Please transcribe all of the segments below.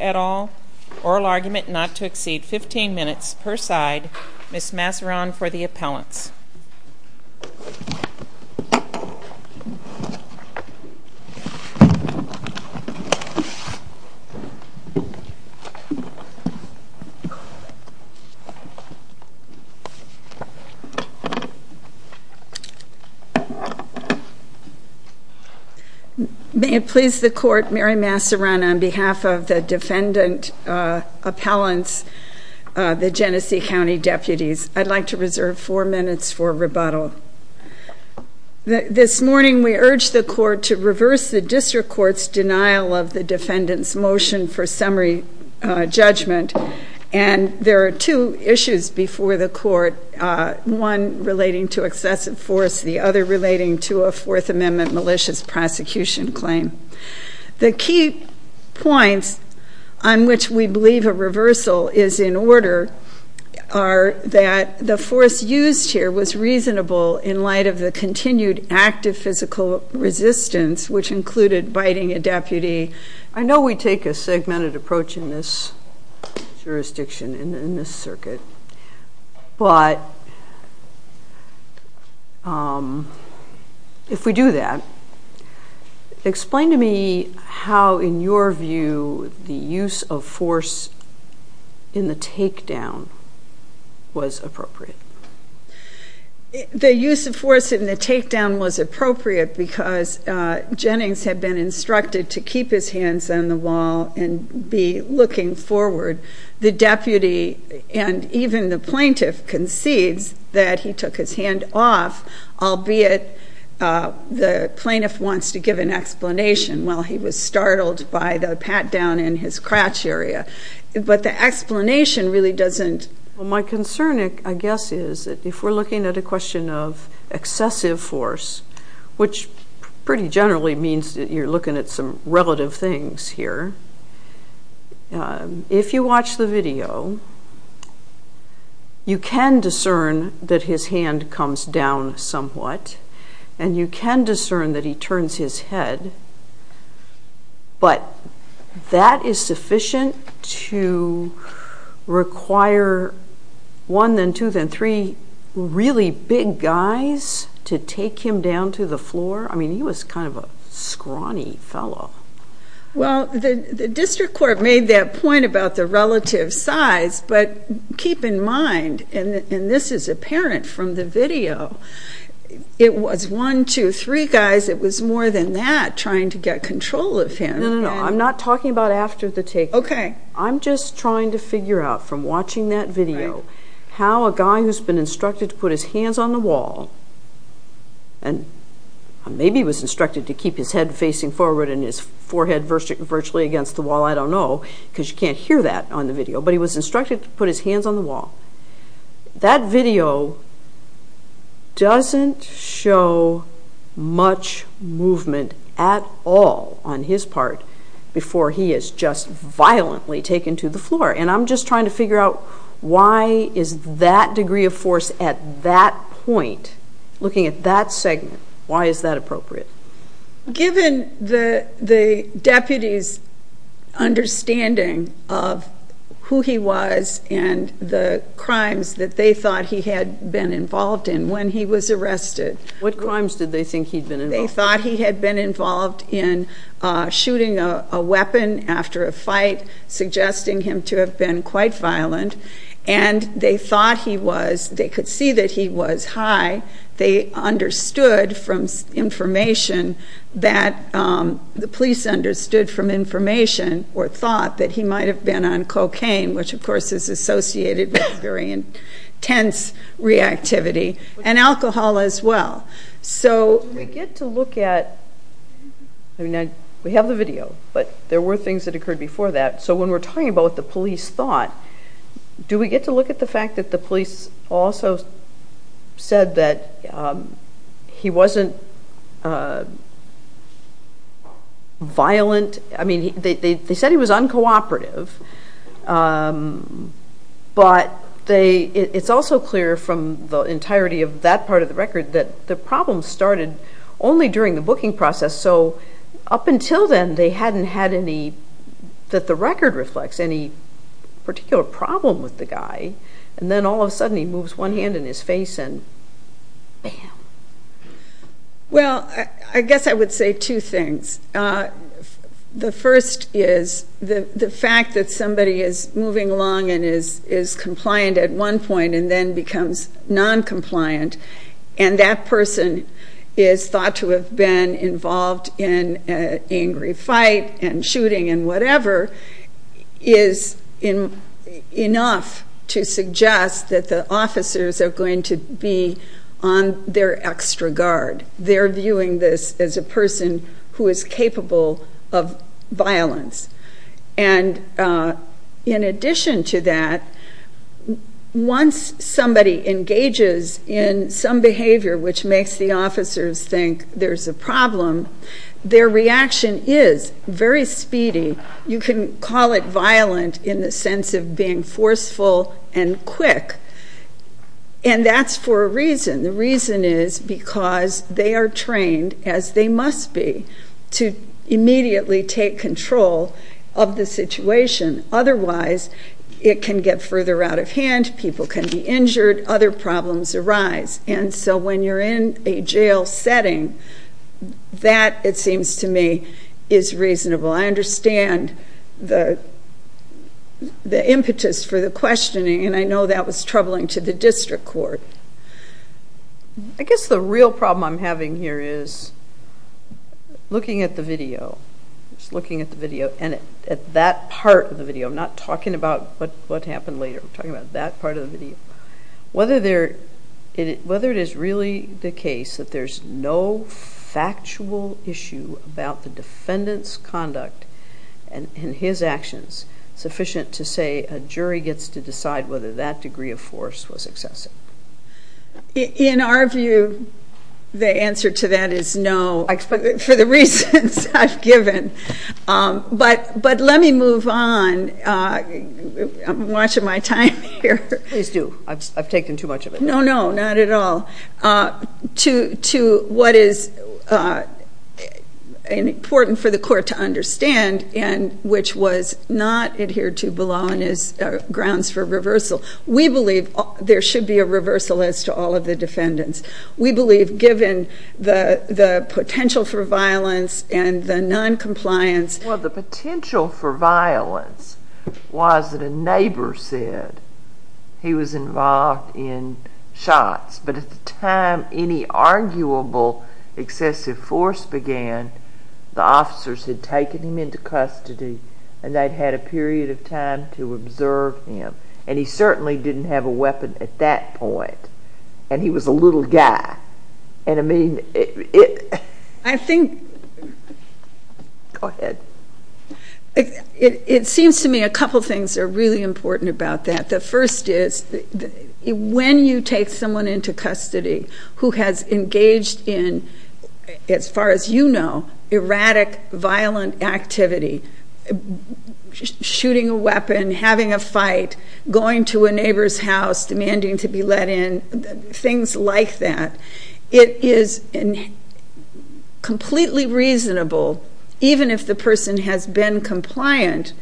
at all, oral argument not to exceed 15 minutes per side, Ms. Masseron for the appellants. May it please the Court, Mary Masseron on behalf of the defendant appellants, the Genesee County deputies, I'd like to reserve four minutes for rebuttal. This morning we urged the Court to reverse the District Court's denial of the defendant's motion for summary judgment. And there are two issues before the Court, one relating to excessive force, the other relating to a Fourth Amendment malicious prosecution claim. The key points on which we believe a reversal is in order are that the force used here was reasonable in light of the continued active physical resistance which included biting a deputy. I know we take a segmented approach in this jurisdiction, in this circuit, but if we do that, explain to me how in your view the use of force in the takedown was appropriate. The use of force in the takedown was appropriate because Jennings had been instructed to keep his hands on the wall and be looking forward. The deputy and even the plaintiff concedes that he took his hand off, albeit the plaintiff wants to give an explanation, well he was startled by the pat down in his crotch area. But the explanation really doesn't... My concern, I guess, is that if we're looking at a question of excessive force, which pretty generally means that you're looking at some relative things here, if you watch the video, you can discern that his hand comes down somewhat, and you can discern that he turns his head, but that is sufficient to require one, then two, then three really big guys to take him down to the floor? I mean, he was kind of a scrawny fellow. Well, the district court made that point about the relative size, but keep in mind, and this is apparent from the video, it was one, two, three guys, it was more than that trying to get control of him. No, no, no, I'm not talking about after the takedown. Okay. I'm just trying to figure out from watching that video how a guy who's been instructed to put his hands on the wall, and maybe he was instructed to keep his head facing forward and his forehead virtually against the wall, I don't know, because you can't hear that on the video, but he was instructed to put his hands on the wall. That video doesn't show much movement at all on his part before he is just violently taken to the floor, and I'm just trying to figure out why is that degree of force at that point, looking at that segment, why is that appropriate? Given the deputy's understanding of who he was and the crimes that they thought he had been involved in when he was arrested. What crimes did they think he'd been involved in? Shooting a weapon after a fight, suggesting him to have been quite violent, and they thought he was, they could see that he was high, they understood from information that, the police understood from information or thought that he might have been on cocaine, which of course is associated with very intense reactivity, and alcohol as well. So we get to look at, we have the video, but there were things that occurred before that, so when we're talking about what the police thought, do we get to look at the fact that the police also said that he wasn't violent, I mean they said he was uncooperative, but it's also clear from the entirety of that part of the record that the problem started only during the booking process, so up until then they hadn't had any, that the record reflects any particular problem with the guy, and then all of a sudden he moves one hand in his face and bam. Well, I guess I would say two things. The first is the fact that somebody is moving along and is compliant at one point and then becomes non-compliant, and that person is thought to have been involved in an angry fight and shooting and whatever, is enough to suggest that the officers are going to be on their extra guard. They're viewing this as a person who is capable of violence, and in addition to that, once somebody engages in some behavior which makes the officers think there's a problem, their reaction is very speedy. You can call it violent in the sense of being forceful and quick, and that's for a reason. The reason is because they are trained, as they must be, to immediately take control of the situation, otherwise it can get further out of hand, people can be injured, other problems arise, and so when you're in a jail setting, that it seems to me is reasonable. I understand the impetus for the questioning, and I know that was troubling to the district court. I guess the real problem I'm having here is looking at the video, and at that part of the video, I'm not talking about what happened later, I'm talking about that part of the video, whether it is really the case that there's no factual issue about the defendant's conduct and his actions sufficient to say a jury gets to decide whether that degree of force was excessive. In our view, the answer to that is no, for the reasons I've given, but let me move on, I'm watching my time here. Please do, I've taken too much of it. No, no, not at all. To what is important for the court to understand, and which was not adhered to below on his grounds for reversal, we believe there should be a reversal as to all of the defendants. We believe given the potential for violence and the non-compliance. Well, the potential for violence was that a neighbor said he was involved in shots, but at the time any arguable excessive force began, the officers had taken him into custody, and they'd had a period of time to observe him, and he certainly didn't have a weapon at that point, and he was a little guy. I think, it seems to me a couple things are really important about that. The first is, when you take someone into custody who has engaged in, as far as you know, erratic, violent activity, shooting a weapon, having a fight, going to a neighbor's house, demanding to be let in, things like that, it is completely reasonable, even if the person has been compliant,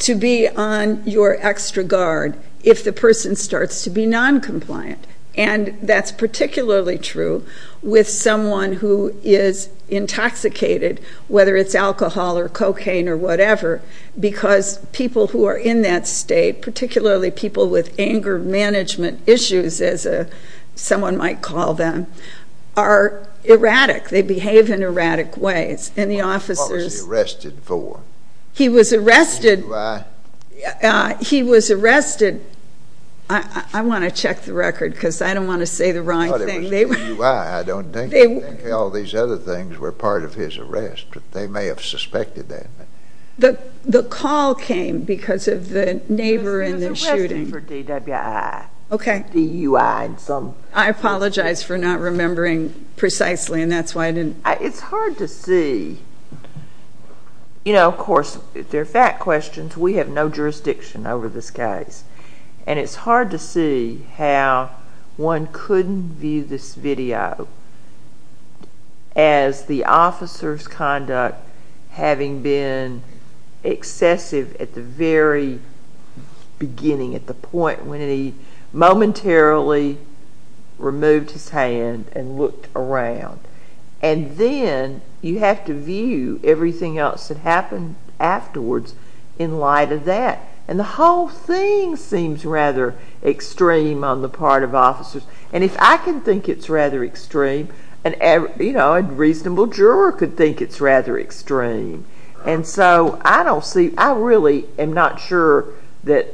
to be on your extra guard if the person starts to be non-compliant. And that's particularly true with someone who is intoxicated, whether it's alcohol or cocaine or whatever, because people who are in that state, particularly people with anger management issues, as someone might call them, are erratic. They behave in erratic ways. What was he arrested for? DUI. He was arrested, I want to check the record because I don't want to say the wrong thing. I thought it was DUI, I don't think. I think all these other things were part of his arrest, but they may have suspected that. The call came because of the neighbor and the shooting. He was arrested for DWI. Okay. DUI and some. I apologize for not remembering precisely, and that's why I didn't. It's hard to see. You know, of course, they're fact questions. We have no jurisdiction over this case. And it's hard to see how one couldn't view this video as the officer's conduct having been excessive at the very beginning, at the point when he momentarily removed his hand and looked around. And then you have to view everything else that happened afterwards in light of that. And the whole thing seems rather extreme on the part of officers. And if I can think it's rather extreme, a reasonable juror could think it's rather extreme. And so I really am not sure that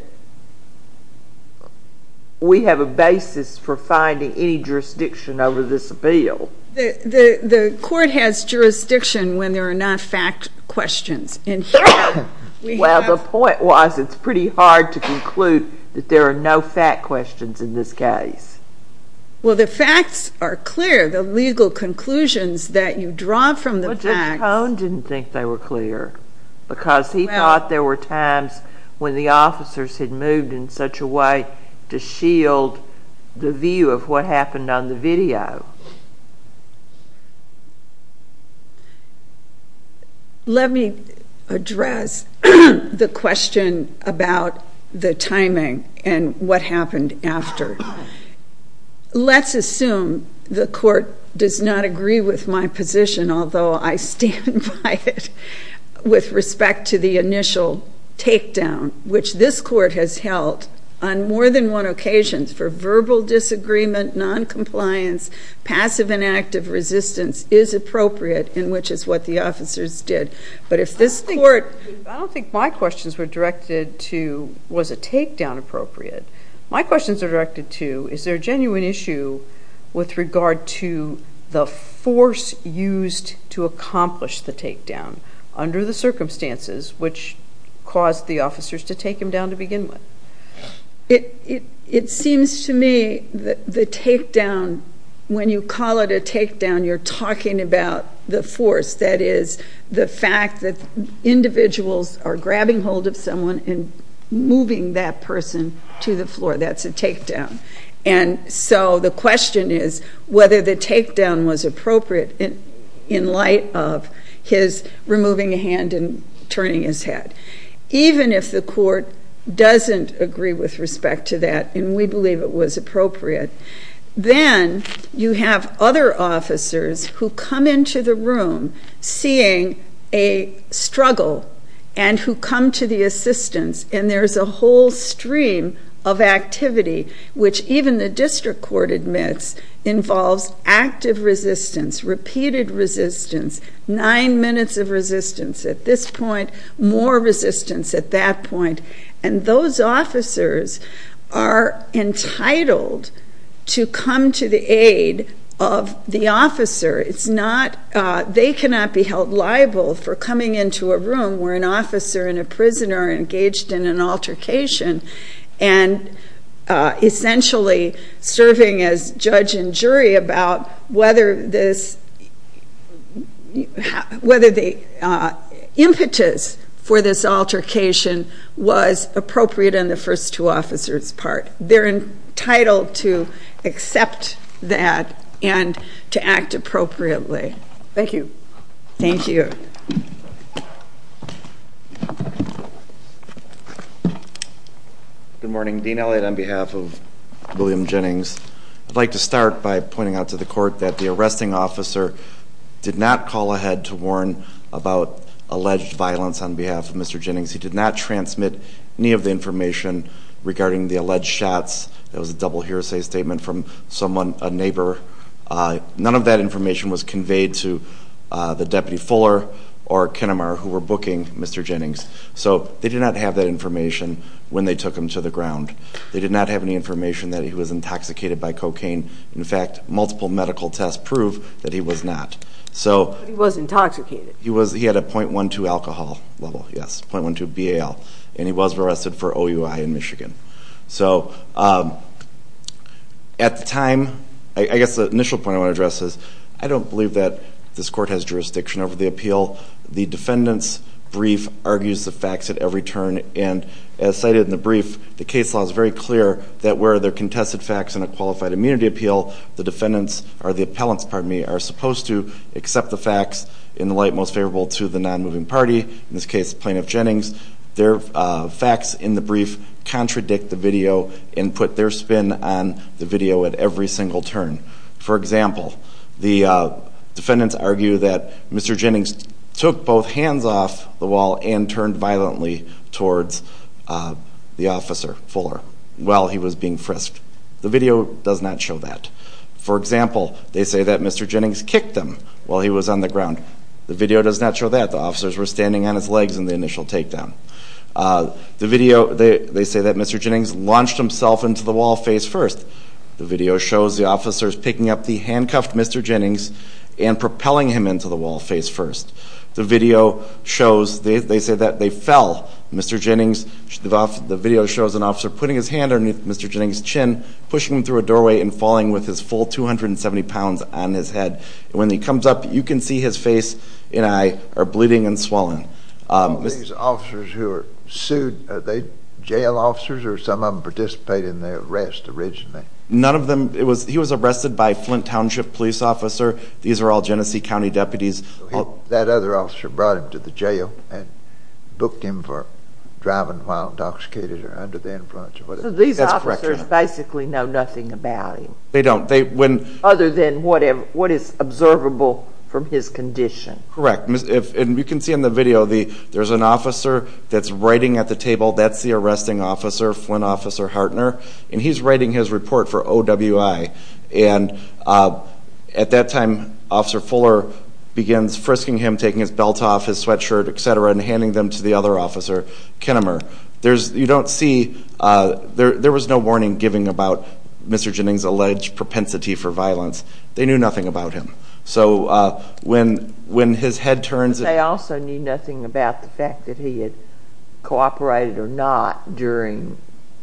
we have a basis for finding any jurisdiction over this appeal. The court has jurisdiction when there are not fact questions. Well, the point was it's pretty hard to conclude that there are no fact questions in this case. Well, the facts are clear. The legal conclusions that you draw from the facts. I think Cohn didn't think they were clear because he thought there were times when the officers had moved in such a way to shield the view of what happened on the video. Let me address the question about the timing and what happened after. Let's assume the court does not agree with my position, although I stand by it, with respect to the initial takedown, which this court has held on more than one occasion for verbal disagreement, noncompliance, passive and active resistance is appropriate, in which is what the officers did. But if this court... I don't think my questions were directed to was a takedown appropriate. My questions are directed to is there a genuine issue with regard to the force used to accomplish the takedown under the circumstances, which caused the officers to take him down to begin with? It seems to me that the takedown, when you call it a takedown, you're talking about the force. That is the fact that individuals are grabbing hold of someone and moving that person to the floor. That's a takedown. And so the question is whether the takedown was appropriate in light of his removing a hand and turning his head. Even if the court doesn't agree with respect to that, and we believe it was appropriate, then you have other officers who come into the room seeing a struggle and who come to the assistance. And there's a whole stream of activity, which even the district court admits involves active resistance, repeated resistance, nine minutes of resistance at this point, more resistance at that point. And those officers are entitled to come to the aid of the officer. They cannot be held liable for coming into a room where an officer and a prisoner are engaged in an altercation and essentially serving as judge and jury about whether the impetus for this altercation was appropriate on the first two officers' part. They're entitled to accept that and to act appropriately. Thank you. Thank you. Good morning. Dean Elliott on behalf of William Jennings. I'd like to start by pointing out to the court that the arresting officer did not call ahead to warn about alleged violence on behalf of Mr. Jennings. He did not transmit any of the information regarding the alleged shots. That was a double hearsay statement from someone, a neighbor. None of that information was conveyed to the Deputy Fuller or Kenamar, who were booking Mr. Jennings. So they did not have that information when they took him to the ground. They did not have any information that he was intoxicated by cocaine. In fact, multiple medical tests prove that he was not. But he was intoxicated. He had a .12 alcohol level, yes, .12 BAL, and he was arrested for OUI in Michigan. So at the time, I guess the initial point I want to address is I don't believe that this court has jurisdiction over the appeal. The defendant's brief argues the facts at every turn, and as cited in the brief, the case law is very clear that where there are contested facts in a qualified immunity appeal, the defendants, or the appellants, pardon me, are supposed to accept the facts in the light most favorable to the non-moving party, in this case, Plaintiff Jennings. Their facts in the brief contradict the video and put their spin on the video at every single turn. For example, the defendants argue that Mr. Jennings took both hands off the wall and turned violently towards the officer, Fuller, while he was being frisked. The video does not show that. For example, they say that Mr. Jennings kicked him while he was on the ground. The video does not show that. The officers were standing on his legs in the initial takedown. They say that Mr. Jennings launched himself into the wall face-first. The video shows the officers picking up the handcuffed Mr. Jennings and propelling him into the wall face-first. They say that they fell. The video shows an officer putting his hand underneath Mr. Jennings' chin, pushing him through a doorway, and falling with his full 270 pounds on his head. When he comes up, you can see his face and eye are bleeding and swollen. These officers who are sued, are they jail officers, or some of them participate in the arrest originally? None of them. He was arrested by a Flint Township police officer. These are all Genesee County deputies. That other officer brought him to the jail and booked him for driving while intoxicated or under the influence. So these officers basically know nothing about him? They don't. Other than what is observable from his condition. Correct. And you can see in the video, there's an officer that's writing at the table. That's the arresting officer, Flint Officer Hartner, and he's writing his report for OWI. And at that time, Officer Fuller begins frisking him, taking his belt off, his sweatshirt, et cetera, and handing them to the other officer, Kenimer. You don't see, there was no warning given about Mr. Jennings' alleged propensity for violence. They knew nothing about him. So when his head turns. But they also knew nothing about the fact that he had cooperated or not during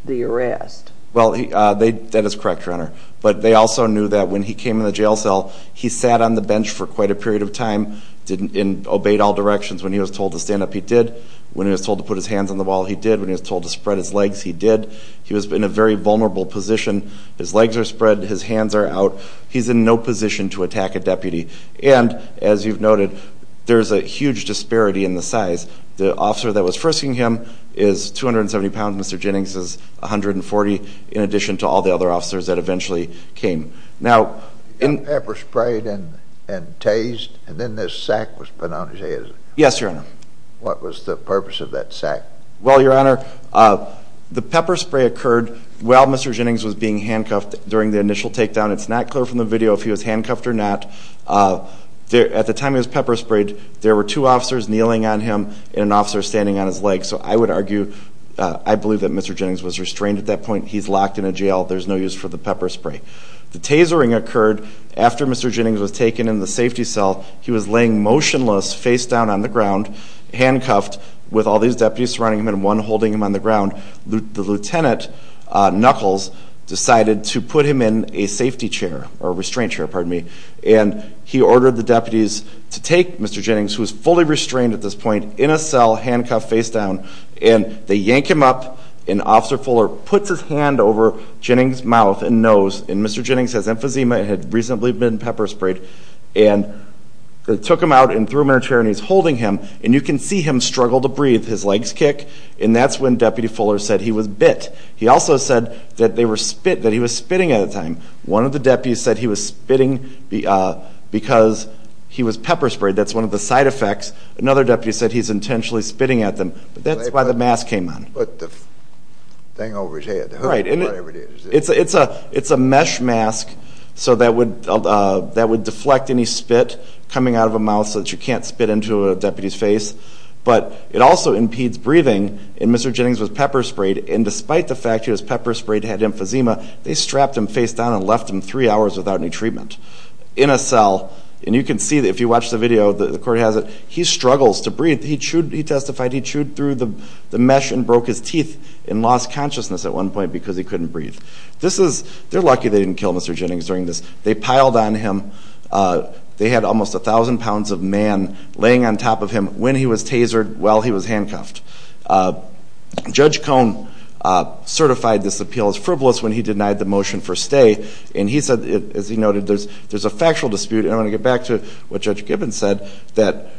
the arrest. Well, that is correct, Your Honor. But they also knew that when he came in the jail cell, he sat on the bench for quite a period of time and obeyed all directions when he was told to stand up, he did. When he was told to put his hands on the wall, he did. When he was told to spread his legs, he did. He was in a very vulnerable position. His legs are spread, his hands are out. He's in no position to attack a deputy. And, as you've noted, there's a huge disparity in the size. The officer that was frisking him is 270 pounds, Mr. Jennings is 140, in addition to all the other officers that eventually came. Now. Pepper sprayed and tased, and then this sack was put on his head. Yes, Your Honor. What was the purpose of that sack? Well, Your Honor, the pepper spray occurred while Mr. Jennings was being handcuffed during the initial takedown. It's not clear from the video if he was handcuffed or not. At the time he was pepper sprayed, there were two officers kneeling on him and an officer standing on his legs. So I would argue, I believe that Mr. Jennings was restrained at that point. He's locked in a jail. There's no use for the pepper spray. The tasering occurred after Mr. Jennings was taken in the safety cell. He was laying motionless, face down on the ground, handcuffed, with all these deputies surrounding him and one holding him on the ground. The lieutenant, Knuckles, decided to put him in a safety chair, or a restraint chair, pardon me, and he ordered the deputies to take Mr. Jennings, who was fully restrained at this point, in a cell, handcuffed, face down. And they yank him up, and Officer Fuller puts his hand over Jennings' mouth and nose, and Mr. Jennings has emphysema and had reasonably been pepper sprayed. And they took him out and threw him in a chair, and he's holding him. And you can see him struggle to breathe, his legs kick. And that's when Deputy Fuller said he was bit. He also said that he was spitting at the time. One of the deputies said he was spitting because he was pepper sprayed. That's one of the side effects. Another deputy said he's intentionally spitting at them. But that's why the mask came on. Put the thing over his head, the hook or whatever it is. It's a mesh mask that would deflect any spit coming out of a mouth so that you can't spit into a deputy's face. But it also impedes breathing, and Mr. Jennings was pepper sprayed. And despite the fact he was pepper sprayed, had emphysema, they strapped him face down and left him three hours without any treatment in a cell. And you can see, if you watch the video, the court has it, he struggles to breathe. He testified he chewed through the mesh and broke his teeth and lost consciousness at one point because he couldn't breathe. They're lucky they didn't kill Mr. Jennings during this. They piled on him. They had almost 1,000 pounds of man laying on top of him. When he was tasered, well, he was handcuffed. Judge Cohn certified this appeal as frivolous when he denied the motion for stay. And he said, as he noted, there's a factual dispute. And I want to get back to what Judge Gibbons said, that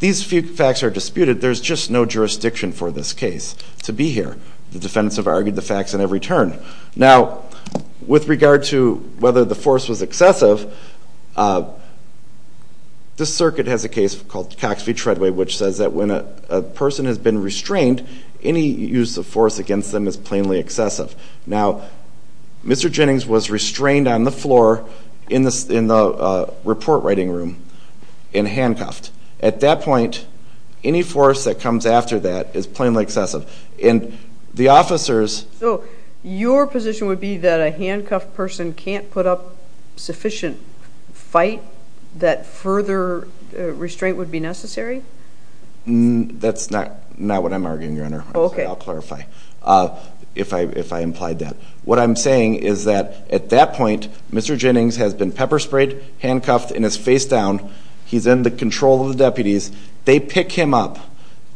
these facts are disputed. There's just no jurisdiction for this case to be here. The defendants have argued the facts in every turn. Now, with regard to whether the force was excessive, this circuit has a case called Cox v. Treadway, which says that when a person has been restrained, any use of force against them is plainly excessive. Now, Mr. Jennings was restrained on the floor in the report-writing room and handcuffed. At that point, any force that comes after that is plainly excessive. And the officers- So your position would be that a handcuffed person can't put up sufficient fight, that further restraint would be necessary? That's not what I'm arguing, Your Honor. I'll clarify if I implied that. What I'm saying is that at that point, Mr. Jennings has been pepper-sprayed, handcuffed, and is face down. He's in the control of the deputies. They pick him up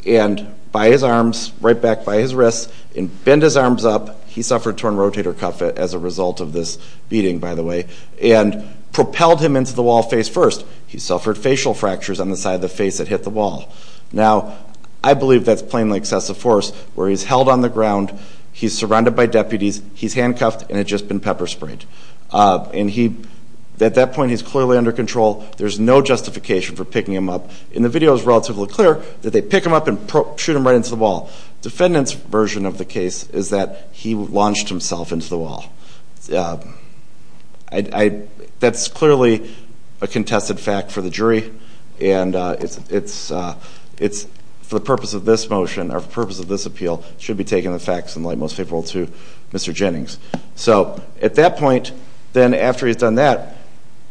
and, by his arms, right back by his wrists, and bend his arms up. He suffered torn rotator cuff as a result of this beating, by the way, and propelled him into the wall face first. He suffered facial fractures on the side of the face that hit the wall. Now, I believe that's plainly excessive force, where he's held on the ground, he's surrounded by deputies, he's handcuffed, and had just been pepper-sprayed. At that point, he's clearly under control. There's no justification for picking him up. In the video, it's relatively clear that they pick him up and shoot him right into the wall. Defendant's version of the case is that he launched himself into the wall. That's clearly a contested fact for the jury, and for the purpose of this motion, or for the purpose of this appeal, should be taken in the facts and lie most favorable to Mr. Jennings. So, at that point, then, after he's done that,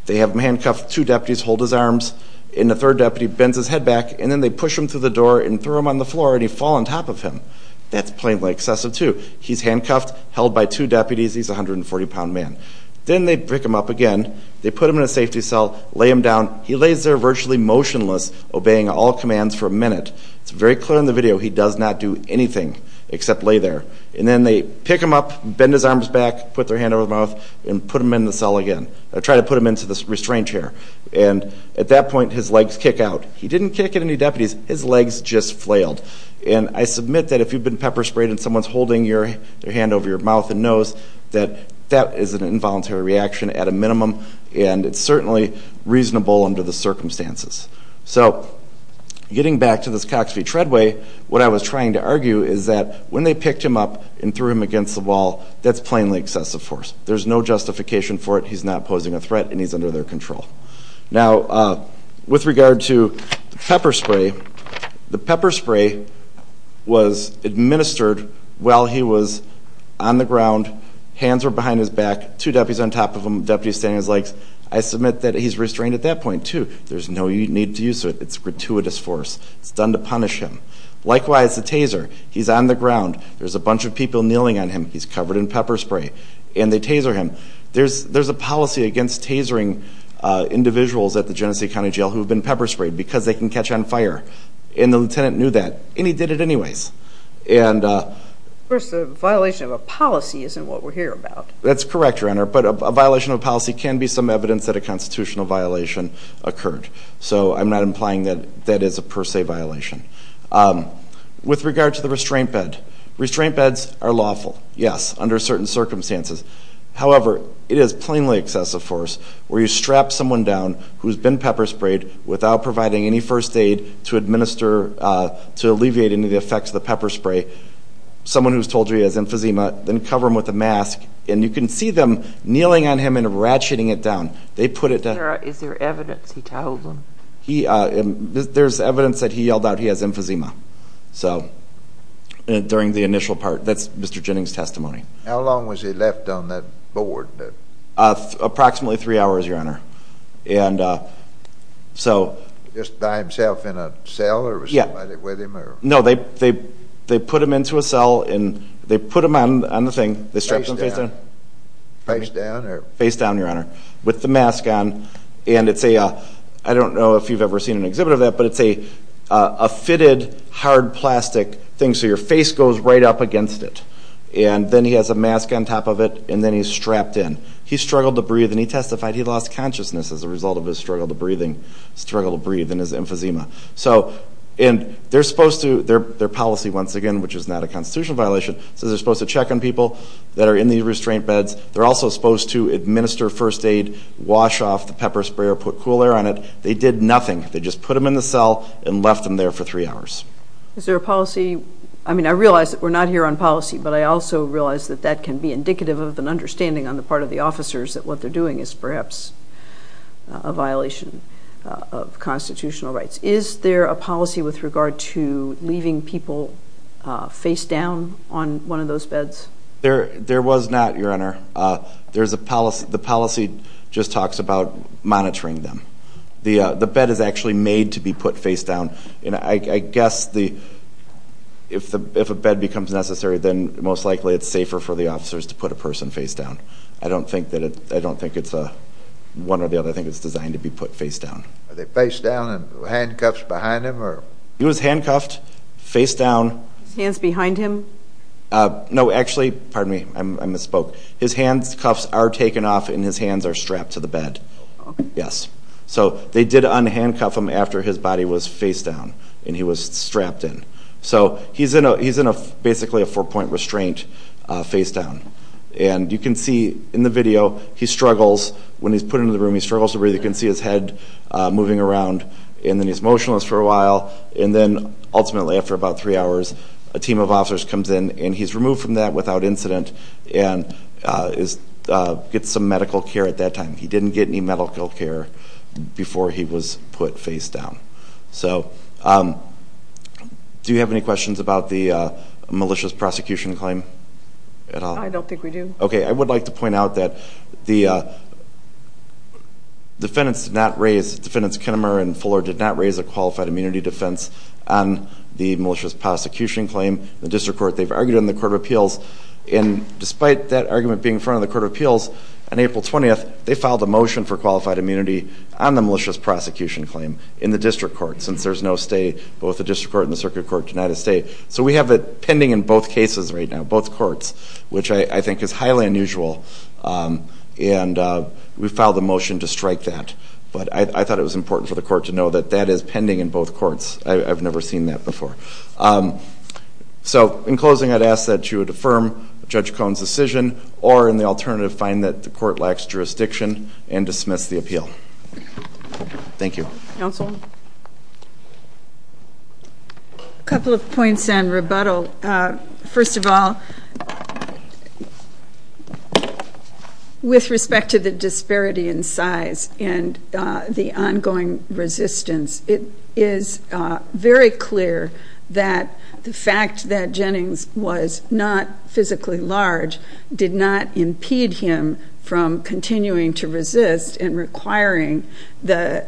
they have him handcuffed, two deputies hold his arms, and the third deputy bends his head back, and then they push him through the door and throw him on the floor, and he falls on top of him. That's plainly excessive, too. He's handcuffed, held by two deputies, he's a 140-pound man. Then they pick him up again, they put him in a safety cell, lay him down. He lays there virtually motionless, obeying all commands for a minute. It's very clear in the video he does not do anything except lay there. And then they pick him up, bend his arms back, put their hand over his mouth, and put him in the cell again. They try to put him into the restraint chair. And at that point, his legs kick out. He didn't kick at any deputies, his legs just flailed. And I submit that if you've been pepper-sprayed and someone's holding their hand over your mouth and nose, that that is an involuntary reaction at a minimum, and it's certainly reasonable under the circumstances. So, getting back to this Cox v. Treadway, what I was trying to argue is that when they picked him up and threw him against the wall, that's plainly excessive force. There's no justification for it. He's not posing a threat, and he's under their control. Now, with regard to the pepper spray, the pepper spray was administered while he was on the ground, hands were behind his back, two deputies on top of him, deputies standing on his legs. I submit that he's restrained at that point too. There's no need to use it. It's gratuitous force. It's done to punish him. Likewise, the taser. He's on the ground. There's a bunch of people kneeling on him. He's covered in pepper spray, and they taser him. There's a policy against tasering individuals at the Genesee County Jail who have been pepper-sprayed because they can catch on fire, and the lieutenant knew that, and he did it anyways. Of course, the violation of a policy isn't what we're here about. That's correct, Your Honor, but a violation of a policy can be some evidence that a constitutional violation occurred, so I'm not implying that that is a per se violation. With regard to the restraint bed, restraint beds are lawful, yes, under certain circumstances. However, it is plainly excessive force where you strap someone down who's been pepper-sprayed without providing any first aid to alleviate any of the effects of the pepper spray, someone who's told you he has emphysema, then cover him with a mask, and you can see them kneeling on him and ratcheting it down. Is there evidence he told them? There's evidence that he yelled out he has emphysema during the initial part. That's Mr. Jennings' testimony. How long was he left on that board? Approximately 3 hours, Your Honor. Just by himself in a cell, or was somebody with him? No, they put him into a cell, and they put him on the thing. They strapped him face down? Face down? Face down, Your Honor, with the mask on, and it's a, I don't know if you've ever seen an exhibit of that, but it's a fitted hard plastic thing, so your face goes right up against it. And then he has a mask on top of it, and then he's strapped in. He struggled to breathe, and he testified he lost consciousness as a result of his struggle to breathe and his emphysema. And they're supposed to, their policy, once again, which is not a constitutional violation, says they're supposed to check on people that are in these restraint beds. They're also supposed to administer first aid, wash off the pepper sprayer, put cool air on it. They did nothing. They just put him in the cell and left him there for 3 hours. Is there a policy, I mean, I realize that we're not here on policy, but I also realize that that can be indicative of an understanding on the part of the officers that what they're doing is perhaps a violation of constitutional rights. Is there a policy with regard to leaving people face down on one of those beds? There was not, Your Honor. The policy just talks about monitoring them. The bed is actually made to be put face down. I guess if a bed becomes necessary, then most likely it's safer for the officers to put a person face down. I don't think it's one or the other. I think it's designed to be put face down. Are they face down and handcuffed behind him? He was handcuffed face down. His hands behind him? No, actually, pardon me, I misspoke. His handcuffs are taken off and his hands are strapped to the bed. Yes. So they did unhandcuff him after his body was face down and he was strapped in. So he's in basically a four-point restraint face down. And you can see in the video, he struggles. When he's put into the room, he struggles to breathe. And then he's motionless for a while. And then, ultimately, after about three hours, a team of officers comes in and he's removed from that without incident and gets some medical care at that time. He didn't get any medical care before he was put face down. So do you have any questions about the malicious prosecution claim at all? I don't think we do. Okay, I would like to point out that the defendants did not raise, defendants Kinnamer and Fuller did not raise a qualified immunity defense on the malicious prosecution claim in the district court. They've argued it in the court of appeals. And despite that argument being in front of the court of appeals, on April 20th, they filed a motion for qualified immunity on the malicious prosecution claim in the district court, since there's no stay, both the district court and the circuit court denied a stay. So we have it pending in both cases right now, both courts, which I think is highly unusual. And we filed a motion to strike that. But I thought it was important for the court to know that that is pending in both courts. I've never seen that before. So in closing, I'd ask that you would affirm Judge Cohn's decision or in the alternative find that the court lacks jurisdiction and dismiss the appeal. Thank you. Counsel? A couple of points on rebuttal. First of all, with respect to the disparity in size and the ongoing resistance, it is very clear that the fact that Jennings was not physically large did not impede him from continuing to resist and requiring the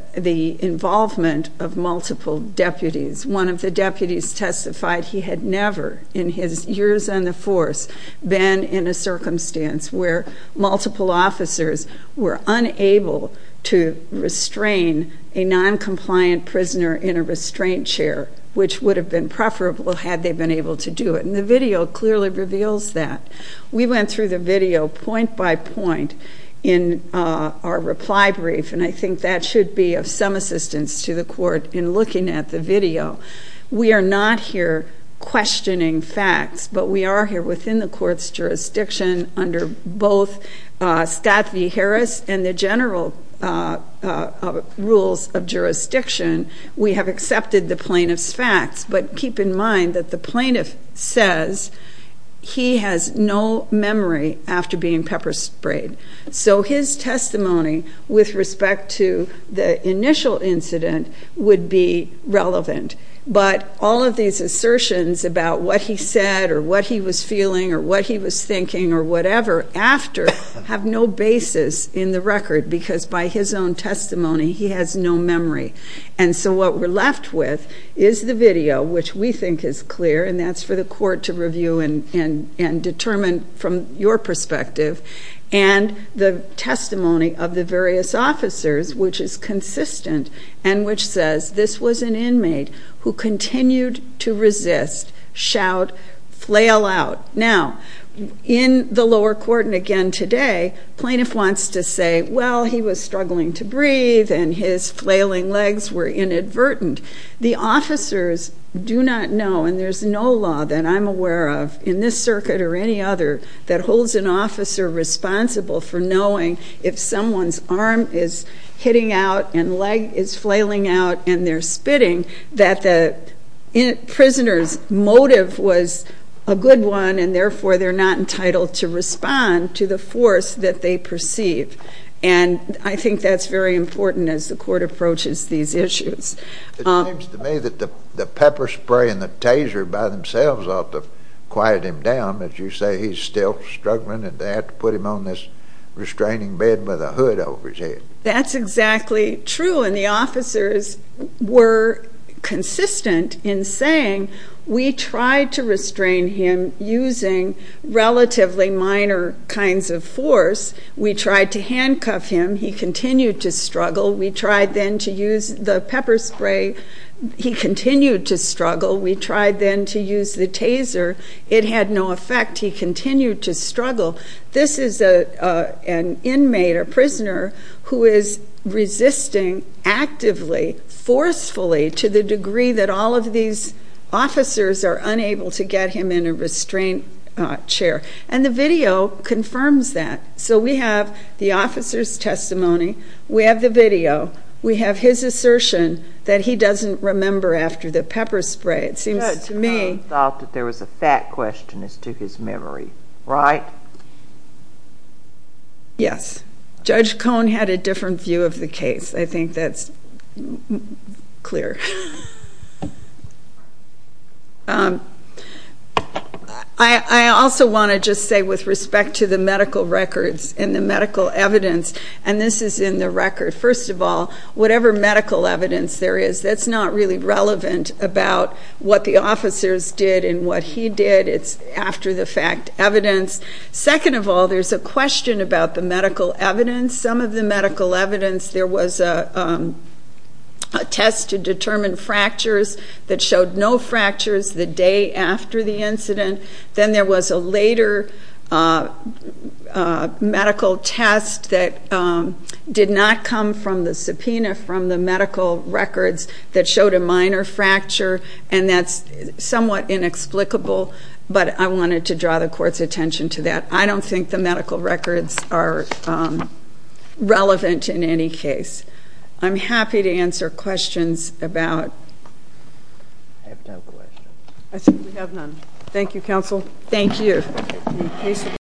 involvement of multiple deputies. One of the deputies testified he had never in his years on the force been in a circumstance where multiple officers were unable to restrain a noncompliant prisoner in a restraint chair, which would have been preferable had they been able to do it. And the video clearly reveals that. We went through the video point by point in our reply brief, and I think that should be of some assistance to the court in looking at the video. We are not here questioning facts, but we are here within the court's jurisdiction under both Scott v. Harris and the general rules of jurisdiction. We have accepted the plaintiff's facts, but keep in mind that the plaintiff says he has no memory after being pepper sprayed. So his testimony with respect to the initial incident would be relevant. But all of these assertions about what he said or what he was feeling or what he was thinking or whatever after have no basis in the record because by his own testimony he has no memory. And so what we're left with is the video, which we think is clear, and that's for the court to review and determine from your perspective. And the testimony of the various officers, which is consistent and which says this was an inmate who continued to resist, shout, flail out. Now, in the lower court, and again today, plaintiff wants to say, well, he was struggling to breathe and his flailing legs were inadvertent. The officers do not know, and there's no law that I'm aware of in this circuit or any other that holds an officer responsible for knowing if someone's arm is hitting out and leg is flailing out and they're spitting that the prisoner's motive was a good one and therefore they're not entitled to respond to the force that they perceive. And I think that's very important as the court approaches these issues. It seems to me that the pepper spray and the taser by themselves ought to quiet him down. As you say, he's still struggling and they have to put him on this restraining bed with a hood over his head. That's exactly true, and the officers were consistent in saying we tried to restrain him using relatively minor kinds of force. We tried to handcuff him. He continued to struggle. We tried then to use the pepper spray. He continued to struggle. We tried then to use the taser. It had no effect. He continued to struggle. This is an inmate, a prisoner, who is resisting actively, forcefully, to the degree that all of these officers are unable to get him in a restraint chair. And the video confirms that. So we have the officer's testimony, we have the video, we have his assertion that he doesn't remember after the pepper spray. It seems to me... Judge Cone thought that there was a fact question as to his memory, right? Yes. Judge Cone had a different view of the case. I think that's clear. I also want to just say with respect to the medical records and the medical evidence, and this is in the record, first of all, whatever medical evidence there is, that's not really relevant about what the officers did and what he did. It's after-the-fact evidence. Second of all, there's a question about the medical evidence. Some of the medical evidence, there was a test to determine fractures that showed no fractures the day after the incident. Then there was a later medical test that did not come from the subpoena from the medical records that showed a minor fracture, and that's somewhat inexplicable, but I wanted to draw the Court's attention to that. I don't think the medical records are relevant in any case. I'm happy to answer questions about... I have no questions. I think we have none. Thank you, Counsel. Thank you.